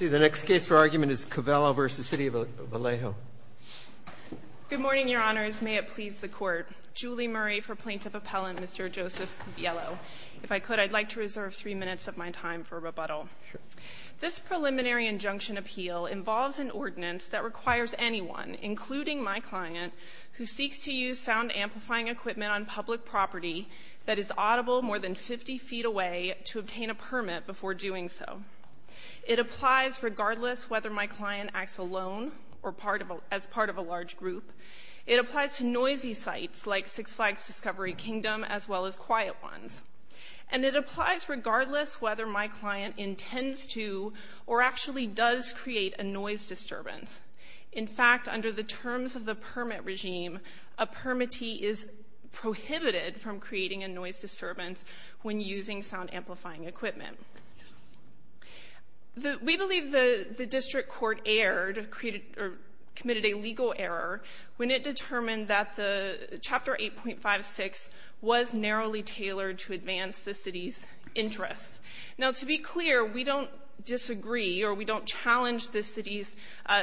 Good morning, Your Honors. May it please the Court. Julie Murray for Plaintiff Appellant, Mr. Joseph Viello. If I could, I'd like to reserve three minutes of my time for rebuttal. This preliminary injunction appeal involves an ordinance that requires anyone, including my client, who seeks to use sound amplifying equipment on public property that is audible more than 50 feet away to obtain a permit before doing so. It applies regardless whether my client acts alone or as part of a large group. It applies to noisy sites like Six Flags Discovery Kingdom as well as quiet ones. And it applies regardless whether my client intends to or actually does create a noise disturbance. In fact, under the terms of the permit regime, a permittee is prohibited from creating a noise disturbance when using sound amplifying equipment. We believe the district court erred, or committed a legal error, when it determined that Chapter 8.56 was narrowly tailored to advance the City's interests. Now, to be clear, we don't disagree or we don't challenge the City's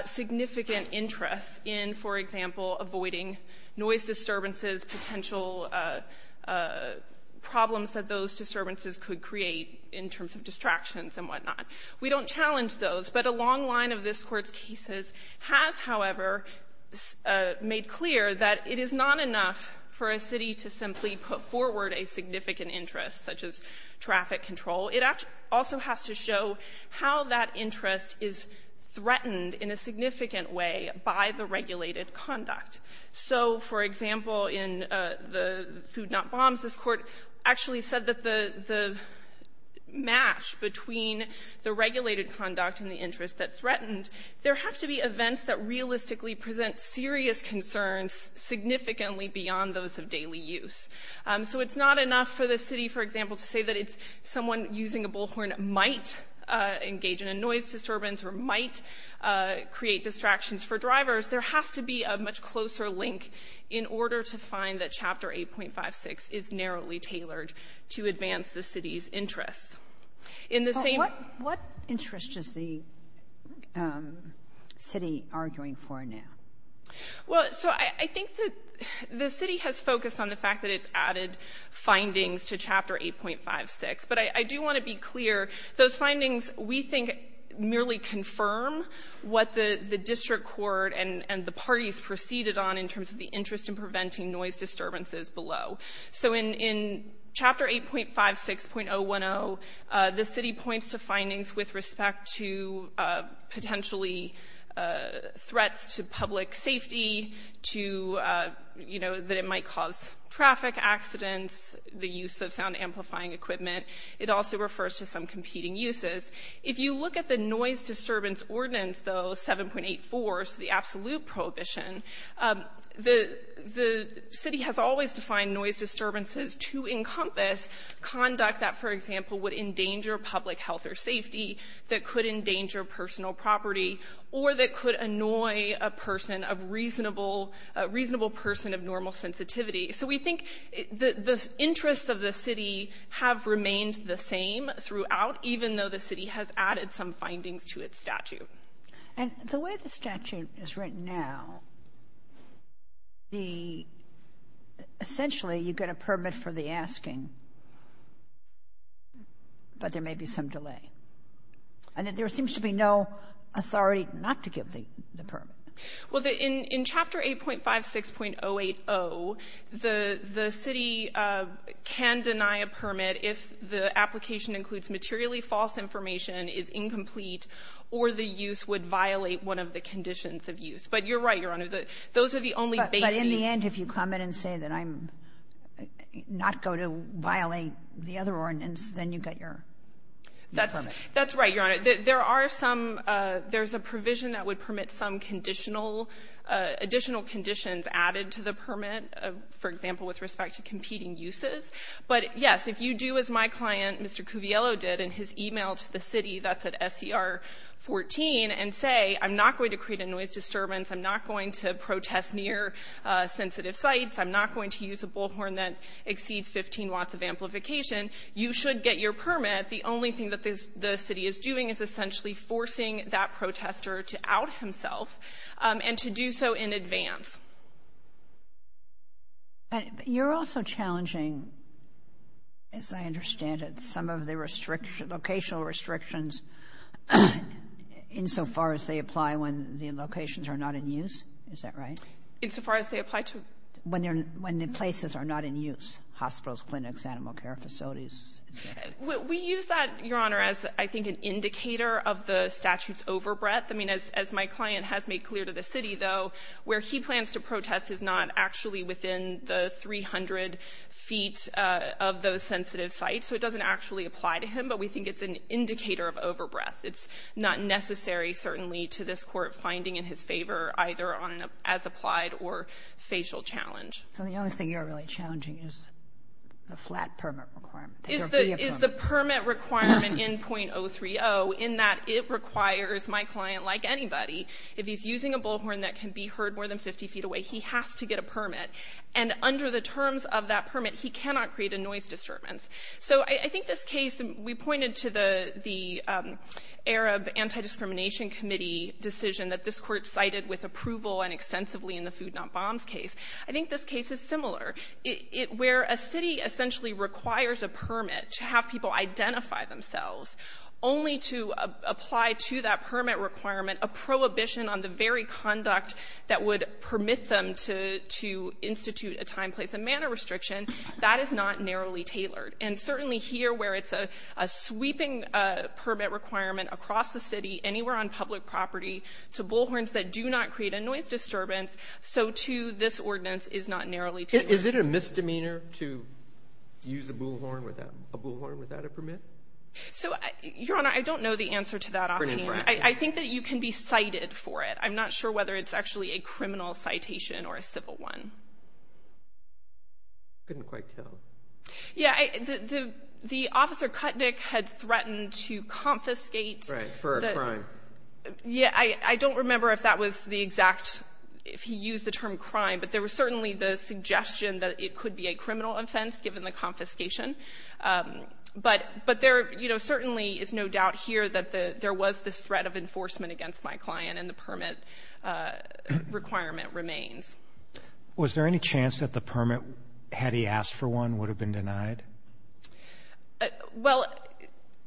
significant interests in, for example, avoiding noise disturbances, potential problems that those disturbances could create in terms of distractions and whatnot. We don't challenge those. But a long line of this Court's cases has, however, made clear that it is not enough for a City to simply put forward a significant interest, such as traffic control. It also has to show how that interest is threatened in a significant way by the regulated conduct. So, for example, in the Food Not Bombs, this Court actually said that the match between the regulated conduct and the interest that's threatened, there have to be events that realistically present serious concerns significantly beyond those of daily use. So it's not enough for the City, for example, to say that it's someone using a bullhorn might engage in a noise disturbance or might create distractions for drivers. There has to be a much closer link in order to find that Chapter 8.56 is narrowly tailored to advance the City's interests. In the same ---- Kagan. What interest is the City arguing for now? Well, so I think that the City has focused on the fact that it's added findings to Chapter 8.56. But I do want to be clear. Those findings, we think, merely confirm what the district court and the parties proceeded on in terms of the interest in preventing noise disturbances below. So in Chapter 8.56.010, the City points to findings with respect to potentially threats to public safety, to, you know, that it might cause traffic accidents, the use of sound amplifying equipment. It also refers to some competing uses. If you look at the noise disturbance ordinance, though, 7.84, so the absolute prohibition, the City has always defined noise disturbances to encompass conduct that, for example, would endanger public health or safety, that could endanger personal property, or that could annoy a person of reasonable ---- a reasonable person of normal sensitivity. So we think the interests of the City have remained the same throughout, even though the City has added some findings to its statute. And the way the statute is written now, the ---- essentially, you get a permit for the asking, but there may be some delay. And there seems to be no authority not to give the permit. Well, in Chapter 8.56.080, the City can deny a permit if the application includes materially false information, is incomplete, or the use would violate one of the conditions of use. But you're right, Your Honor, that those are the only basic ---- But in the end, if you come in and say that I'm not going to violate the other ordinance, then you get your permit. That's right, Your Honor. There are some ---- there's a provision that would permit some conditional ---- additional conditions added to the permit, for example, with respect to competing uses. But, yes, if you do as my client, Mr. Cuviello, did in his e-mail to the City, that's at SCR 14, and say, I'm not going to create a noise disturbance, I'm not going to protest near sensitive sites, I'm not going to use a bullhorn that exceeds 15 watts of amplification, you should get your permit. The only thing that the City is doing is essentially forcing that protester to out himself, and to do so in advance. But you're also challenging, as I understand it, some of the restriction ---- locational restrictions insofar as they apply when the locations are not in use, is that right? Insofar as they apply to ---- When they're ---- when the places are not in use, hospitals, clinics, animal care facilities. We use that, Your Honor, as, I think, an indicator of the statute's overbreath. I mean, as my client has made clear to the City, though, where he plans to protest is not actually within the 300 feet of those sensitive sites, so it doesn't actually apply to him, but we think it's an indicator of overbreath. It's not necessary, certainly, to this Court finding in his favor, either on an as-applied or facial challenge. So the only thing you're really challenging is the flat permit requirement. Is the permit requirement in.030 in that it requires my client, like anybody, if he's using a bullhorn that can be heard more than 50 feet away, he has to get a permit. And under the terms of that permit, he cannot create a noise disturbance. So I think this case, we pointed to the Arab Anti-Discrimination Committee decision that this Court cited with approval and extensively in the Food Not Bombs case. I think this case is similar. It — where a city essentially requires a permit to have people identify themselves, only to apply to that permit requirement a prohibition on the very conduct that would permit them to — to institute a time, place, and manner restriction, that is not narrowly tailored. And certainly here, where it's a — a sweeping permit requirement across the City, anywhere on public property, to bullhorns that do not create a noise disturbance, so too this ordinance is not narrowly tailored. Is it a misdemeanor to use a bullhorn without — a bullhorn without a permit? So, Your Honor, I don't know the answer to that offhand. I think that you can be cited for it. I'm not sure whether it's actually a criminal citation or a civil one. Couldn't quite tell. Yeah, I — the — the — the officer Kutnick had threatened to confiscate — Right. For a crime. Yeah. I don't remember if that was the exact — if he used the term crime, but there was certainly the suggestion that it could be a criminal offense given the confiscation. But there, you know, certainly is no doubt here that the — there was this threat of enforcement against my client, and the permit requirement remains. Was there any chance that the permit, had he asked for one, would have been denied? Well,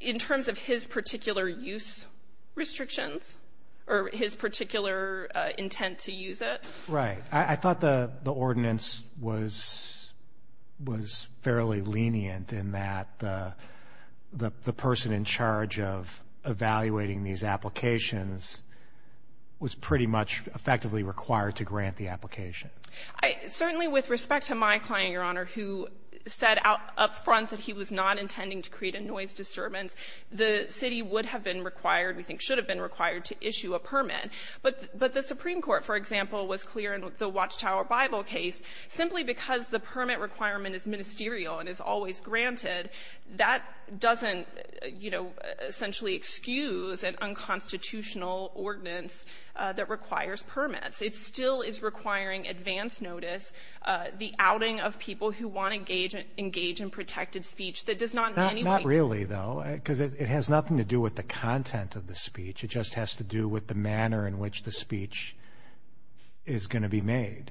in terms of his particular use restrictions, or his particular intent to use it. Right. I thought the — the ordinance was — was fairly lenient in that the — the person in charge of evaluating these applications was pretty much effectively required to grant the application. I — certainly with respect to my client, Your Honor, who said out — up front that he was not intending to create a noise disturbance, the city would have been required, we think should have been required, to issue a permit. But — but the Supreme Court, for example, was clear in the Watchtower Bible case, simply because the permit requirement is ministerial and is always granted, that doesn't, you know, essentially excuse an unconstitutional ordinance that requires permits. It still is requiring advance notice, the outing of people who want to engage — engage in protected speech that does not — Not — not really, though, because it has nothing to do with the content of the speech. It just has to do with the manner in which the speech is going to be made.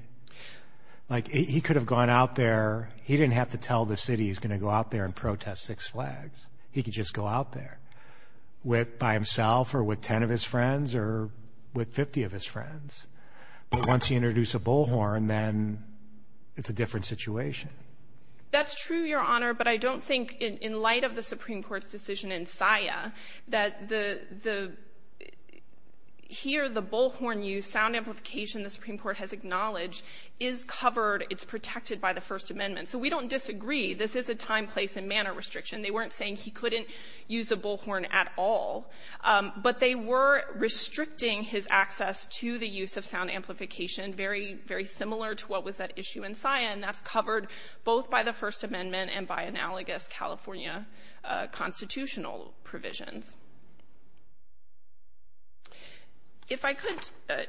Like, he could have gone out there — he didn't have to tell the city he's going to go out there and protest Six Flags. He could just go out there with — by himself, or with 10 of his friends, or with 50 of his friends. But once you introduce a bullhorn, then it's a different situation. That's true, Your Honor, but I don't think, in light of the Supreme Court's decision in SIA, that the — the — here, the bullhorn use, sound amplification the Supreme Court has acknowledged, is covered, it's protected by the First Amendment. So we don't disagree. This is a time, place, and manner restriction. They weren't saying he couldn't use a bullhorn at all. But they were restricting his access to the use of sound amplification, very, very similar to what was at issue in SIA, and that's covered both by the First Amendment and by analogous California constitutional provisions. If I could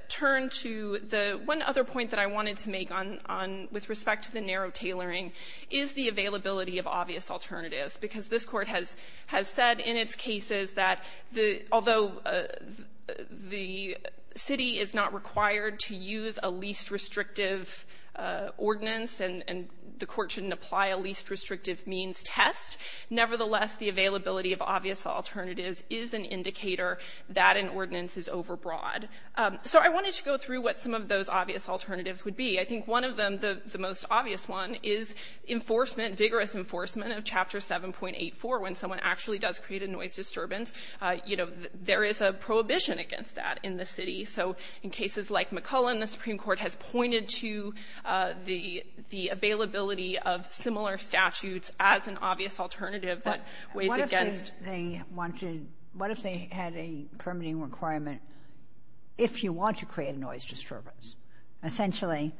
turn to the one other point that I wanted to make on — on — with respect to the narrow tailoring, is the availability of obvious alternatives, because this Court has — has said in its cases that the — although the city is not required to use a least-restrictive ordinance, and — and the court shouldn't apply a least-restrictive means test, nevertheless, the availability of obvious alternatives is an indicator that an ordinance is overbroad. So I wanted to go through what some of those obvious alternatives would be. I think one of them, the — the most obvious one, is enforcement, vigorous enforcement of Chapter 7.84, when someone actually does create a noise disturbance. You know, there is a prohibition against that in the city. So in cases like McCullen, the Supreme Court has pointed to the — the availability of similar statutes as an obvious alternative that weighs against — Kagan. What if they wanted — what if they had a permitting requirement, if you want to create a noise disturbance, essentially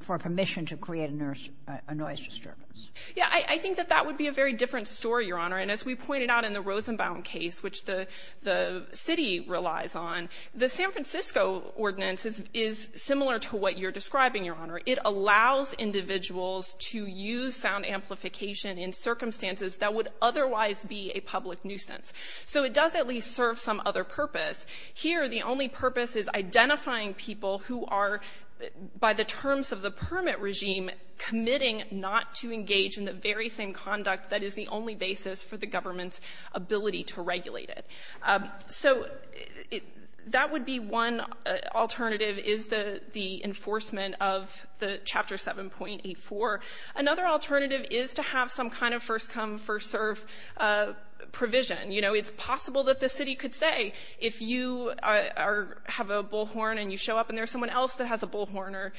for permission to create a noise disturbance? Yeah. I — I think that that would be a very different story, Your Honor. And as we pointed out in the Rosenbaum case, which the — the city relies on, the San Francisco ordinance is — is similar to what you're describing, Your Honor. It allows individuals to use sound amplification in circumstances that would otherwise be a public nuisance. So it does at least serve some other purpose. Here, the only purpose is identifying people who are, by the terms of the permit regime, committing not to engage in the very same conduct that is the only basis for the government's ability to regulate it. So that would be one alternative, is the — the enforcement of the Chapter 7.84. Another alternative is to have some kind of first-come, first-served provision. You know, it's possible that the city could say, if you are — have a bullhorn and you show up and there's someone else that has a bullhorn or,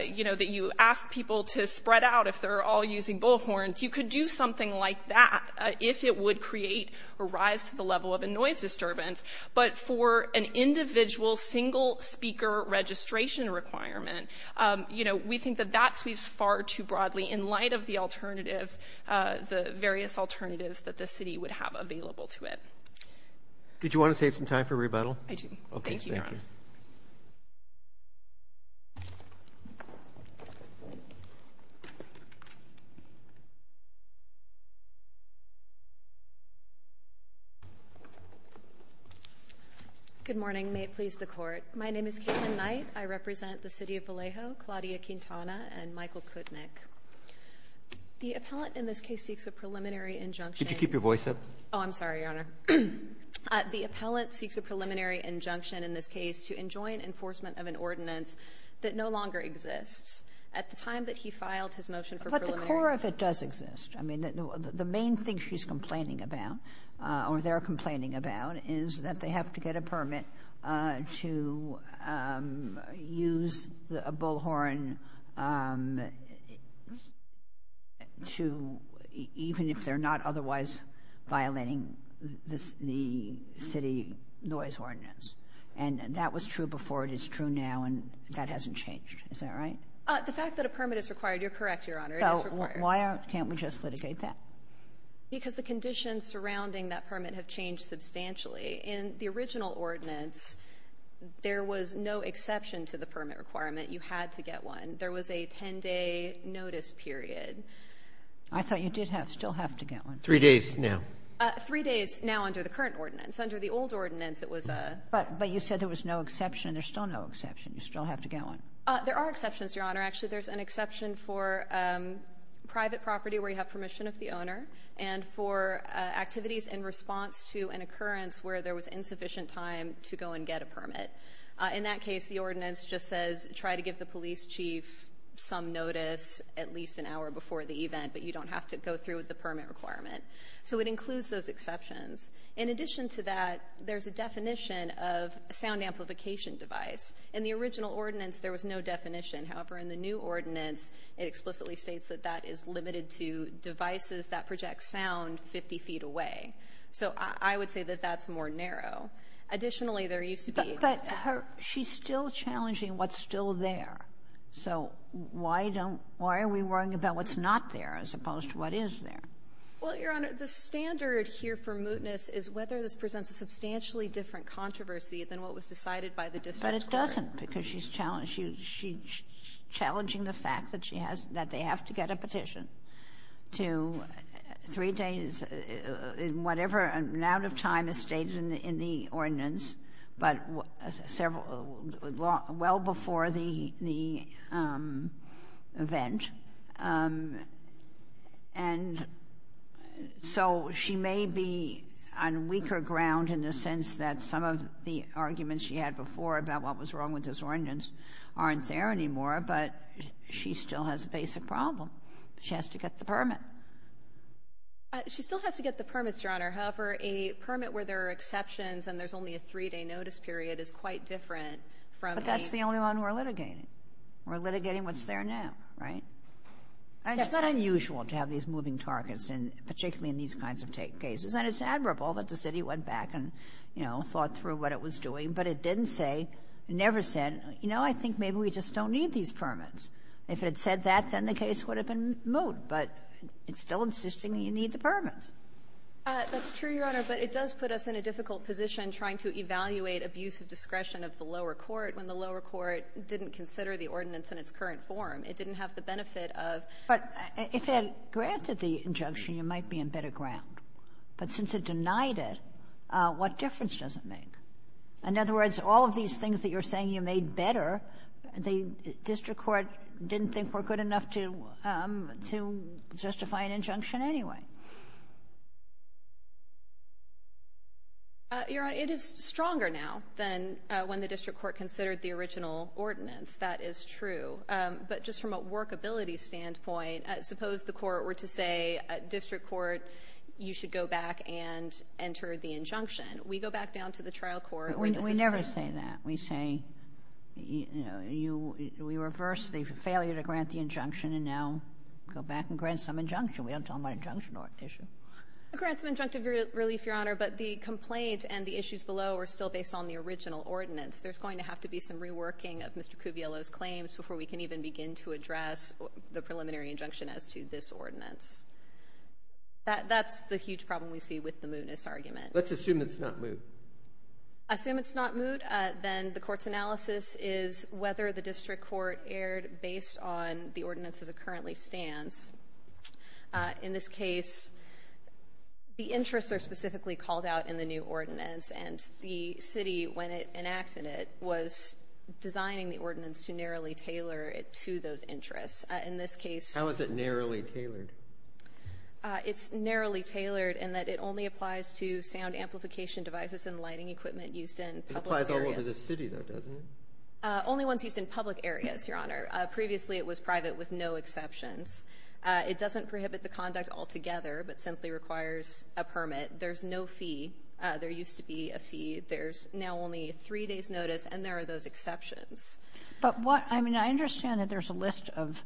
you know, that you ask people to spread out if they're all using bullhorns, you could do something like that if it would create or rise to the level of a noise disturbance. But for an individual single-speaker registration requirement, you know, we think that that sweeps far too broadly in light of the alternative — the various alternatives that the city would have available to it. Did you want to save some time for rebuttal? I do. Okay. Thank you, Your Honor. Good morning. May it please the Court. My name is Caitlin Knight. I represent the City of Vallejo, Claudia Quintana, and Michael Kutnick. The appellant in this case seeks a preliminary injunction. Could you keep your voice up? Oh, I'm sorry, Your Honor. The appellant seeks a preliminary injunction in this case to enjoin enforcement of an ordinance that no longer exists. At the time that he filed his motion for preliminary — But the core of it does exist. I mean, the main thing she's complaining about, or they're complaining about, is that they have to get a permit to use a bullhorn to — even if they're not otherwise violating the city noise ordinance. And that was true before. It is true now. And that hasn't changed. Is that right? The fact that a permit is required, you're correct, Your Honor. It is required. Why can't we just litigate that? Because the conditions surrounding that permit have changed substantially. In the original ordinance, there was no exception to the permit requirement. You had to get one. There was a 10-day notice period. I thought you did have — still have to get one. Three days now. Three days now under the current ordinance. Under the old ordinance, it was a — But you said there was no exception, and there's still no exception. You still have to get one. There are exceptions, Your Honor. Actually, there's an exception for private property where you have permission of the owner and for activities in response to an occurrence where there was insufficient time to go and get a permit. In that case, the ordinance just says try to give the police chief some notice at least an hour before the event, but you don't have to go through with the permit requirement. So it includes those exceptions. In addition to that, there's a definition of a sound amplification device. In the original ordinance, there was no definition. However, in the new ordinance, it explicitly states that that is limited to devices that project sound 50 feet away. So I would say that that's more narrow. Additionally, there used to be — But she's still challenging what's still there. So why don't — why are we worrying about what's not there as opposed to what is there? Well, Your Honor, the standard here for mootness is whether this presents a substantially different controversy than what was decided by the district court. But it doesn't, because she's challenging the fact that she has — that they have to get a petition to three days in whatever amount of time is stated in the ordinance, but several — well before the — the event. And so she may be on weaker ground in the sense that some of the arguments she had before about what was wrong with this ordinance aren't there anymore, but she still has a basic problem. She has to get the permit. She still has to get the permits, Your Honor. However, a permit where there are exceptions and there's only a three-day notice period is quite different from a — But that's the only one we're litigating. We're litigating what's there now, right? Yes. And it's not unusual to have these moving targets, particularly in these kinds of cases. And it's admirable that the city went back and, you know, thought through what it was doing, but it didn't say, never said, you know, I think maybe we just don't need these permits. If it had said that, then the case would have been moot, but it's still insisting you need the permits. That's true, Your Honor, but it does put us in a difficult position trying to evaluate abuse of discretion of the lower court when the lower court didn't consider the ordinance in its current form. It didn't have the benefit of — But if it had granted the injunction, you might be in better ground. But since it denied it, what difference does it make? In other words, all of these things that you're saying you made better, the district court didn't think were good enough to justify an injunction anyway. Your Honor, it is stronger now than when the district court considered the original ordinance. That is true. But just from a workability standpoint, suppose the court were to say, district court, you should go back and enter the injunction. We go back down to the trial court. We never say that. We say, you know, we reverse the failure to grant the injunction and now go back and grant some injunction. We don't talk about injunction issue. We grant some injunctive relief, Your Honor, but the complaint and the issues below are still based on the original ordinance. There's going to have to be some reworking of Mr. Cubiello's claims before we can even begin to address the preliminary injunction as to this ordinance. That's the huge problem we see with the mootness argument. Let's assume it's not moot. Assume it's not moot. Then the court's analysis is whether the district court erred based on the ordinance as it currently stands. In this case, the interests are specifically called out in the new ordinance, and the was designing the ordinance to narrowly tailor it to those interests. In this case... How is it narrowly tailored? It's narrowly tailored in that it only applies to sound amplification devices and lighting equipment used in public areas. It applies all over the city, though, doesn't it? Only once used in public areas, Your Honor. Previously, it was private with no exceptions. It doesn't prohibit the conduct altogether, but simply requires a permit. There's no fee. There used to be a fee. There's now only three days' notice, and there are those exceptions. But what — I mean, I understand that there's a list of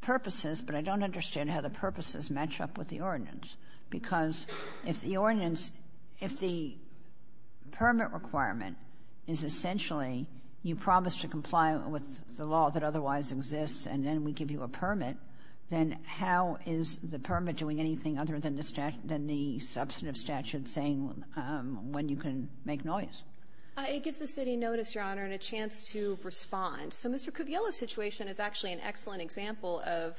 purposes, but I don't understand how the purposes match up with the ordinance, because if the ordinance — if the permit requirement is essentially you promise to comply with the law that otherwise exists, and then we give you a permit, then how is the permit doing anything other than the substantive statute saying when you can make noise? It gives the city notice, Your Honor, and a chance to respond. So Mr. Kuviello's situation is actually an excellent example of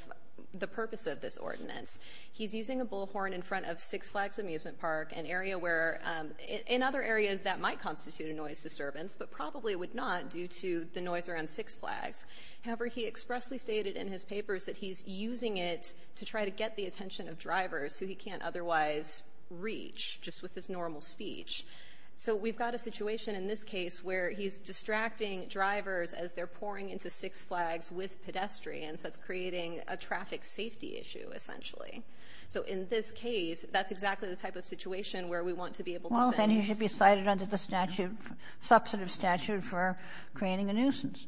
the purpose of this ordinance. He's using a bullhorn in front of Six Flags Amusement Park, an area where — in other areas that might constitute a noise disturbance, but probably would not due to the noise around Six Flags. However, he expressly stated in his papers that he's using it to try to get the attention of drivers who he can't otherwise reach just with his normal speech. So we've got a situation in this case where he's distracting drivers as they're pouring into Six Flags with pedestrians. That's creating a traffic safety issue, essentially. So in this case, that's exactly the type of situation where we want to be able to say — Well, then he should be cited under the statute — substantive statute for creating a nuisance.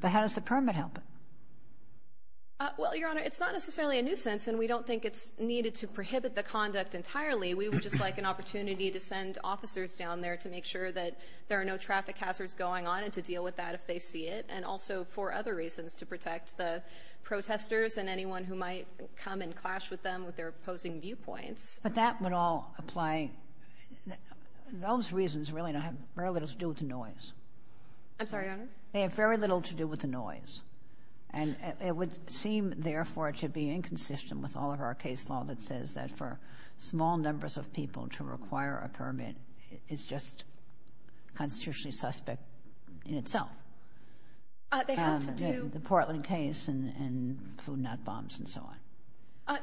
But how does the permit help it? Well, Your Honor, it's not necessarily a nuisance, and we don't think it's needed to prohibit the conduct entirely. We would just like an opportunity to send officers down there to make sure that there are no traffic hazards going on and to deal with that if they see it, and also for other reasons, to protect the protesters and anyone who might come and clash with them with their opposing viewpoints. But that would all apply — those reasons really have very little to do with the noise. I'm sorry, Your Honor? They have very little to do with the noise. And it would seem, therefore, to be inconsistent with all of our case law that says that for small numbers of people to require a permit is just constitutionally suspect in itself. They have to do — The Portland case and food not bombs and so on.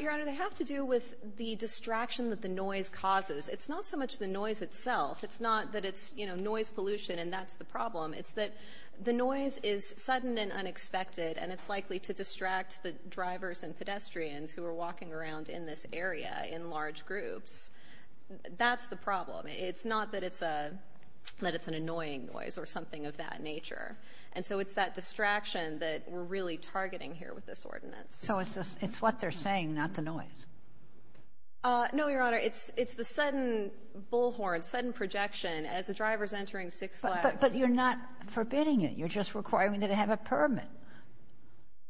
Your Honor, they have to do with the distraction that the noise causes. It's not so much the noise itself. It's not that it's, you know, noise pollution and that's the problem. It's that the noise is sudden and unexpected, and it's likely to distract the drivers and pedestrians who are walking around in this area in large groups. That's the problem. It's not that it's a — that it's an annoying noise or something of that nature. And so it's that distraction that we're really targeting here with this ordinance. So it's what they're saying, not the noise? No, Your Honor. It's the sudden bullhorn, sudden projection as the driver's entering Six Flags. But you're not forbidding it. You're just requiring them to have a permit.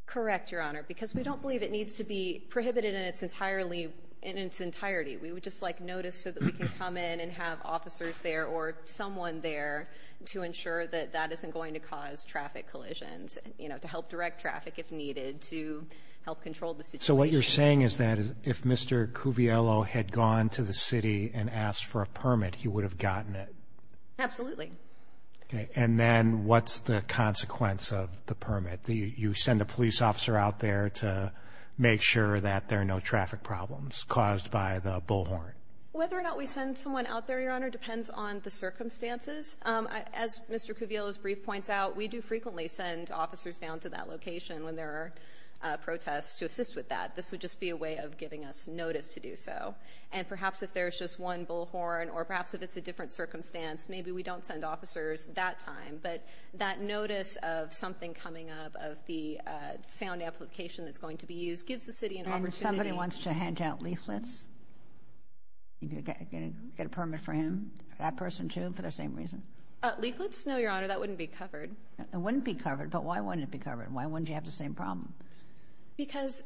Correct, Your Honor, because we don't believe it needs to be prohibited in its entirely — in its entirety. We would just like notice so that we can come in and have officers there or someone there to ensure that that isn't going to cause traffic collisions, you know, to help direct traffic if needed, to help control the situation. So what you're saying is that if Mr. Cuviello had gone to the city and asked for a permit, he would have gotten it? Absolutely. Okay. And then what's the consequence of the permit? You send a police officer out there to make sure that there are no traffic problems caused by the bullhorn? Whether or not we send someone out there, Your Honor, depends on the circumstances. As Mr. Cuviello's brief points out, we do frequently send officers down to that location when there are protests to assist with that. This would just be a way of giving us notice to do so. And perhaps if there's just one bullhorn or perhaps if it's a different circumstance, maybe we don't send officers that time. But that notice of something coming up, of the sound amplification that's going to be used, gives the city an opportunity. And if somebody wants to hand out leaflets, you can get a permit for him, that person too, for the same reason? Leaflets? No, Your Honor, that wouldn't be covered. It wouldn't be covered, but why wouldn't it be covered? Why wouldn't you have the same problem? Because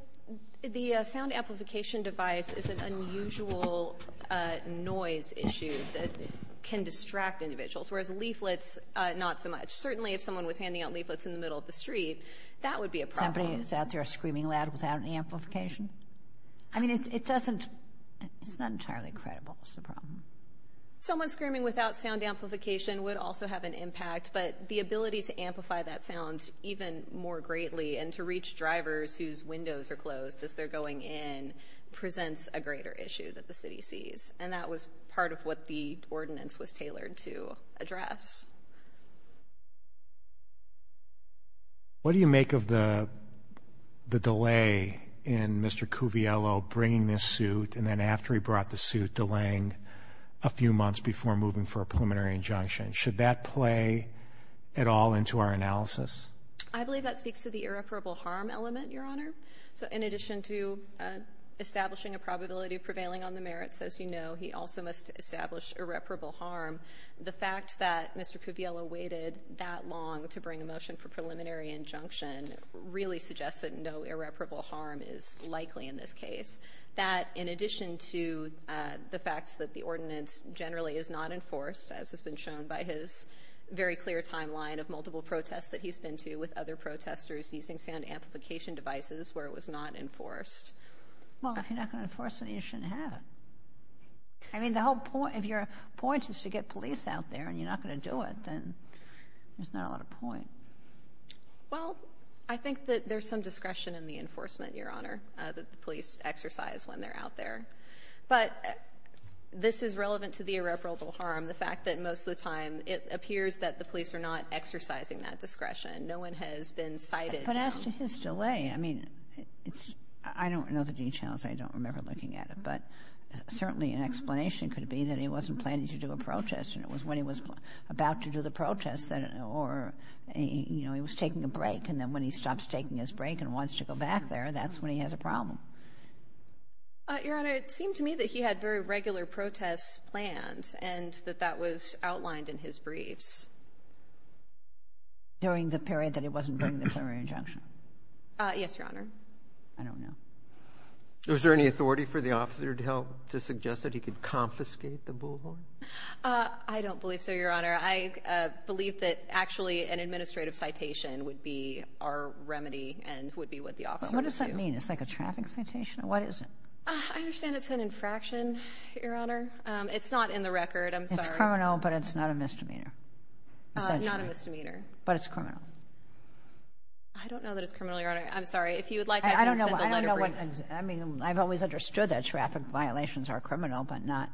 the sound amplification device is an unusual noise issue that can distract individuals, whereas leaflets, not so much. Certainly, if someone was handing out leaflets in the middle of the street, that would be a problem. Somebody is out there screaming loud without an amplification? I mean, it doesn't, it's not entirely credible, is the problem. Someone screaming without sound amplification would also have an impact, but the ability to amplify that sound even more greatly, and to reach drivers whose windows are closed as they're going in, presents a greater issue that the city sees. And that was part of what the ordinance was tailored to address. What do you make of the delay in Mr. Cuviello bringing this suit, and then after he brought the suit, delaying a few months before moving for a preliminary injunction? Should that play at all into our analysis? I believe that speaks to the irreparable harm element, Your Honor. So in addition to establishing a probability of prevailing on the merits, as you know, he also must establish irreparable harm. The fact that Mr. Cuviello waited that long to bring a motion for preliminary injunction really suggests that no irreparable harm is likely in this case. That in addition to the fact that the ordinance generally is not enforced, as has been shown by his very clear timeline of multiple protests that he's been to with other protestors using sound amplification devices where it was not enforced. Well, if you're not going to enforce it, you shouldn't have it. I mean, the whole point, if your point is to get police out there and you're not going to do it, then there's not a lot of point. Well, I think that there's some discretion in the enforcement, Your Honor, that the police exercise when they're out there. But this is relevant to the irreparable harm, the fact that most of the time it appears that the police are not exercising that discretion. No one has been cited. But as to his delay, I mean, it's — I don't know the details. I don't remember looking at it. But certainly an explanation could be that he wasn't planning to do a protest, and it was when he was about to do the protest that — or, you know, he was taking a break, and then when he stops taking his break and wants to go back there, that's when he has a problem. Your Honor, it seemed to me that he had very regular protests planned and that that was outlined in his briefs. During the period that it wasn't during the prior injunction? Yes, Your Honor. I don't know. Was there any authority for the officer to help to suggest that he could confiscate the bullhorn? I don't believe so, Your Honor. I believe that actually an administrative citation would be our remedy and would be what the officer would do. But what does that mean? It's like a traffic citation? What is it? I understand it's an infraction, Your Honor. It's not in the record. I'm sorry. It's criminal, but it's not a misdemeanor, essentially. Not a misdemeanor. But it's criminal. I don't know that it's criminal, Your Honor. I'm sorry. If you would like, I can send the letter brief. I mean, I've always understood that traffic violations are criminal, but not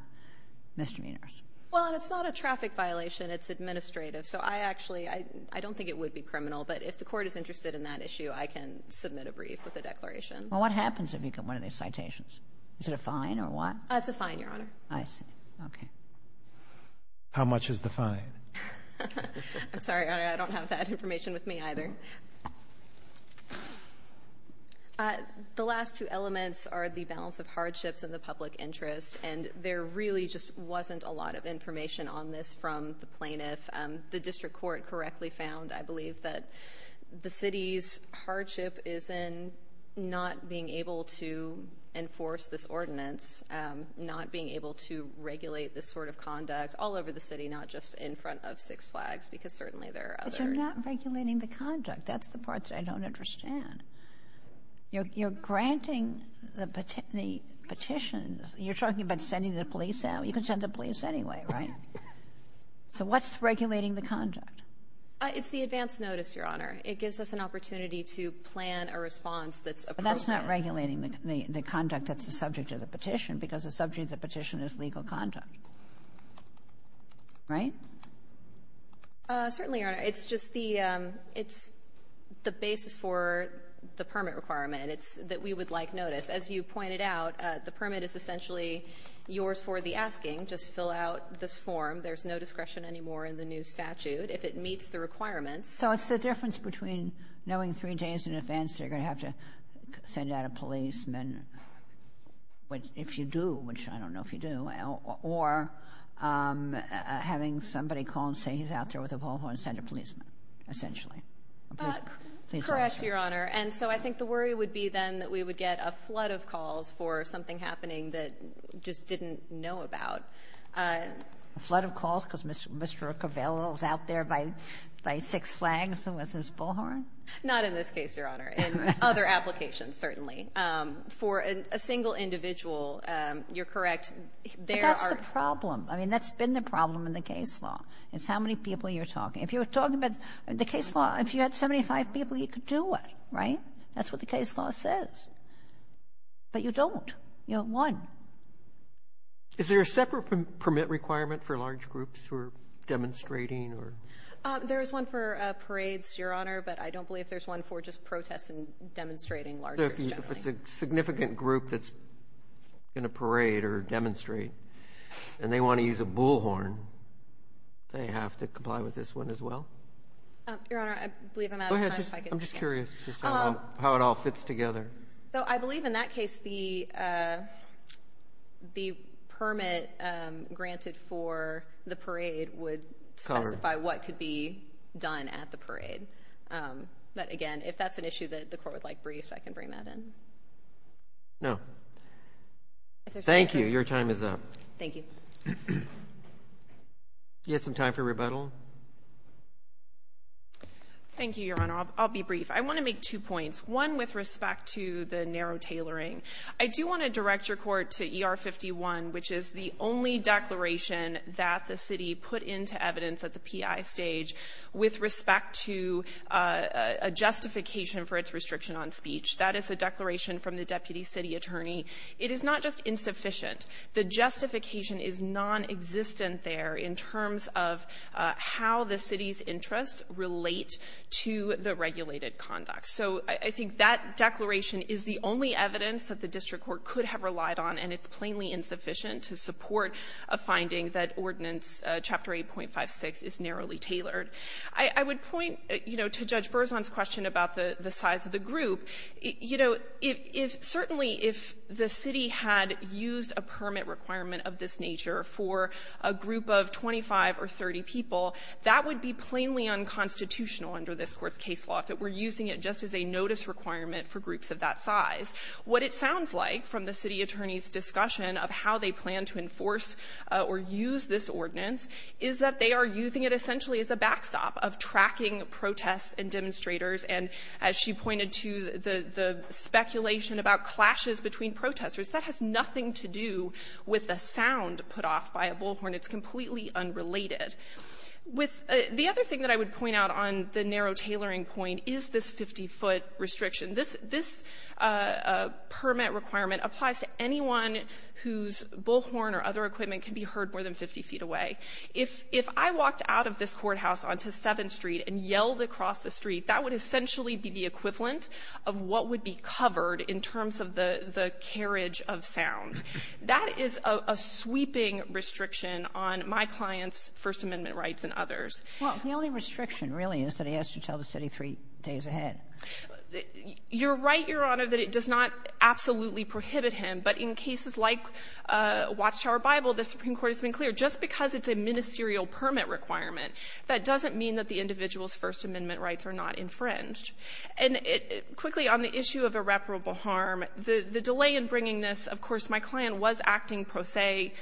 misdemeanors. Well, and it's not a traffic violation. It's administrative. So I actually — I don't think it would be criminal. But if the court is interested in that issue, I can submit a brief with a declaration. Well, what happens if you get one of these citations? Is it a fine or what? It's a fine, Your Honor. I see. Okay. How much is the fine? I'm sorry, Your Honor. I don't have that information with me either. The last two elements are the balance of hardships and the public interest. And there really just wasn't a lot of information on this from the plaintiff. The district court correctly found, I believe, that the city's hardship is in not being able to enforce this ordinance, not being able to regulate this sort of conduct all over the city, not just in front of Six Flags, because certainly there are other — But you're not regulating the conduct. That's the part that I don't understand. You're granting the petitions. You're talking about sending the police out? You can send the police anyway, right? So what's regulating the conduct? It's the advance notice, Your Honor. It gives us an opportunity to plan a response that's appropriate. But that's not regulating the conduct that's the subject of the petition, because the subject of the petition is legal conduct, right? Certainly, Your Honor. It's just the — it's the basis for the permit requirement. It's that we would like notice. As you pointed out, the permit is essentially yours for the asking. Just fill out this form. There's no discretion anymore in the new statute. If it meets the requirements — So it's the difference between knowing three days in advance that you're going to have to send out a policeman, which — if you do, which I don't know if you do, or having somebody call and say he's out there with a bullhorn and send a policeman, essentially. Correct, Your Honor. And so I think the worry would be, then, that we would get a flood of calls for something happening that we just didn't know about. A flood of calls because Mr. Covello is out there by six flags with his bullhorn? Not in this case, Your Honor. In other applications, certainly. For a single individual, you're correct, there are — But that's the problem. I mean, that's been the problem in the case law, is how many people you're talking. If you were talking about — in the case law, if you had 75 people, you could do it, right? That's what the case law says. But you don't. You don't want. Is there a separate permit requirement for large groups who are demonstrating, or — There is one for parades, Your Honor, but I don't believe there's one for just protests and demonstrating large groups, generally. So if it's a significant group that's going to parade or demonstrate, and they want to use a bullhorn, they have to comply with this one as well? Your Honor, I believe I'm out of time. Go ahead. I'm just curious how it all fits together. So I believe in that case, the permit granted for the parade would specify what could be done at the parade. But again, if that's an issue that the Court would like briefed, I can bring that in. No. Thank you. Your time is up. Thank you. Do you have some time for rebuttal? Thank you, Your Honor. I'll be brief. I want to make two points. One with respect to the narrow tailoring. I do want to direct Your Court to ER-51, which is the only declaration that the city put into evidence at the PI stage with respect to a justification for its restriction on speech. That is a declaration from the deputy city attorney. It is not just insufficient. The justification is nonexistent there in terms of how the city's interests relate to the regulated conduct. So I think that declaration is the only evidence that the district court could have relied on, and it's plainly insufficient to support a finding that Ordinance 8.56 is narrowly tailored. I would point, you know, to Judge Berzon's question about the size of the group. You know, if certainly if the city had used a permit requirement of this nature for a group of 25 or 30 people, that would be plainly unconstitutional under this Court's case law if it were using it just as a notice requirement for groups of that size. What it sounds like from the city attorney's discussion of how they plan to enforce or use this ordinance is that they are using it essentially as a backstop of tracking protests and demonstrators. And as she pointed to, the speculation about clashes between protesters, that has nothing to do with the sound put off by a bullhorn. It's completely unrelated. With the other thing that I would point out on the narrow tailoring point is this 50-foot restriction. This permit requirement applies to anyone whose bullhorn or other equipment can be heard more than 50 feet away. If I walked out of this courthouse onto 7th Street and yelled across the street, that would essentially be the equivalent of what would be covered in terms of the carriage of sound. That is a sweeping restriction on my client's First Amendment rights and others. Well, the only restriction really is that he has to tell the city three days ahead. You're right, Your Honor, that it does not absolutely prohibit him. But in cases like Watchtower Bible, the Supreme Court has been clear, just because it's a ministerial permit requirement, that doesn't mean that the individual's First Amendment rights are not infringed. And quickly, on the issue of irreparable harm, the delay in bringing this, of course, my client was acting pro se.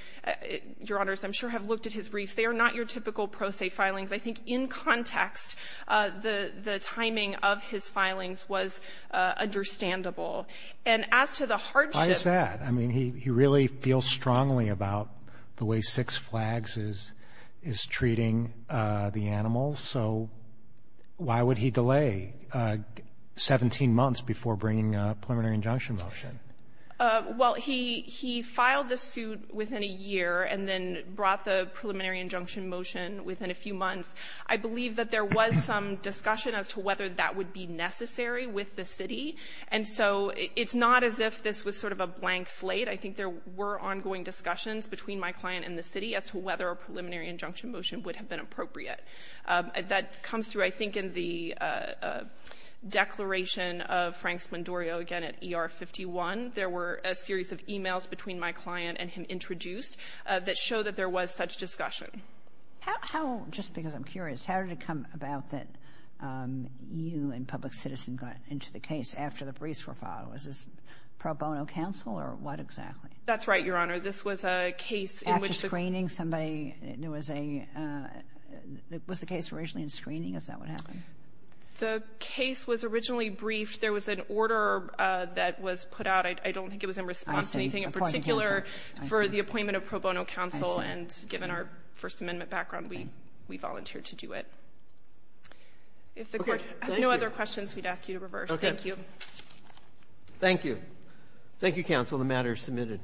Your Honors, I'm sure have looked at his briefs. They are not your typical pro se filings. I think in context, the timing of his filings was understandable. And as to the hardship ---- Why is that? I mean, he really feels strongly about the way Six Flags is treating the animals. So why would he delay 17 months before bringing a preliminary injunction motion? Well, he ---- he filed the suit within a year and then brought the preliminary injunction motion within a few months. I believe that there was some discussion as to whether that would be necessary with the city. And so it's not as if this was sort of a blank slate. I think there were ongoing discussions between my client and the city as to whether a preliminary injunction motion would have been appropriate. That comes through, I think, in the declaration of Frank Spondorio, again, at ER-51, there were a series of e-mails between my client and him introduced that show that there was such discussion. How ---- just because I'm curious, how did it come about that you and Public Citizen got into the case after the briefs were filed? Was this pro bono counsel or what exactly? That's right, Your Honor. This was a case in which the ---- After screening, somebody ---- there was a ---- was the case originally in screening? Is that what happened? The case was originally briefed. If there was an order that was put out, I don't think it was in response to anything in particular for the appointment of pro bono counsel. And given our First Amendment background, we volunteered to do it. If the Court has no other questions, we'd ask you to reverse. Thank you. Thank you. Thank you, counsel. The matter is submitted.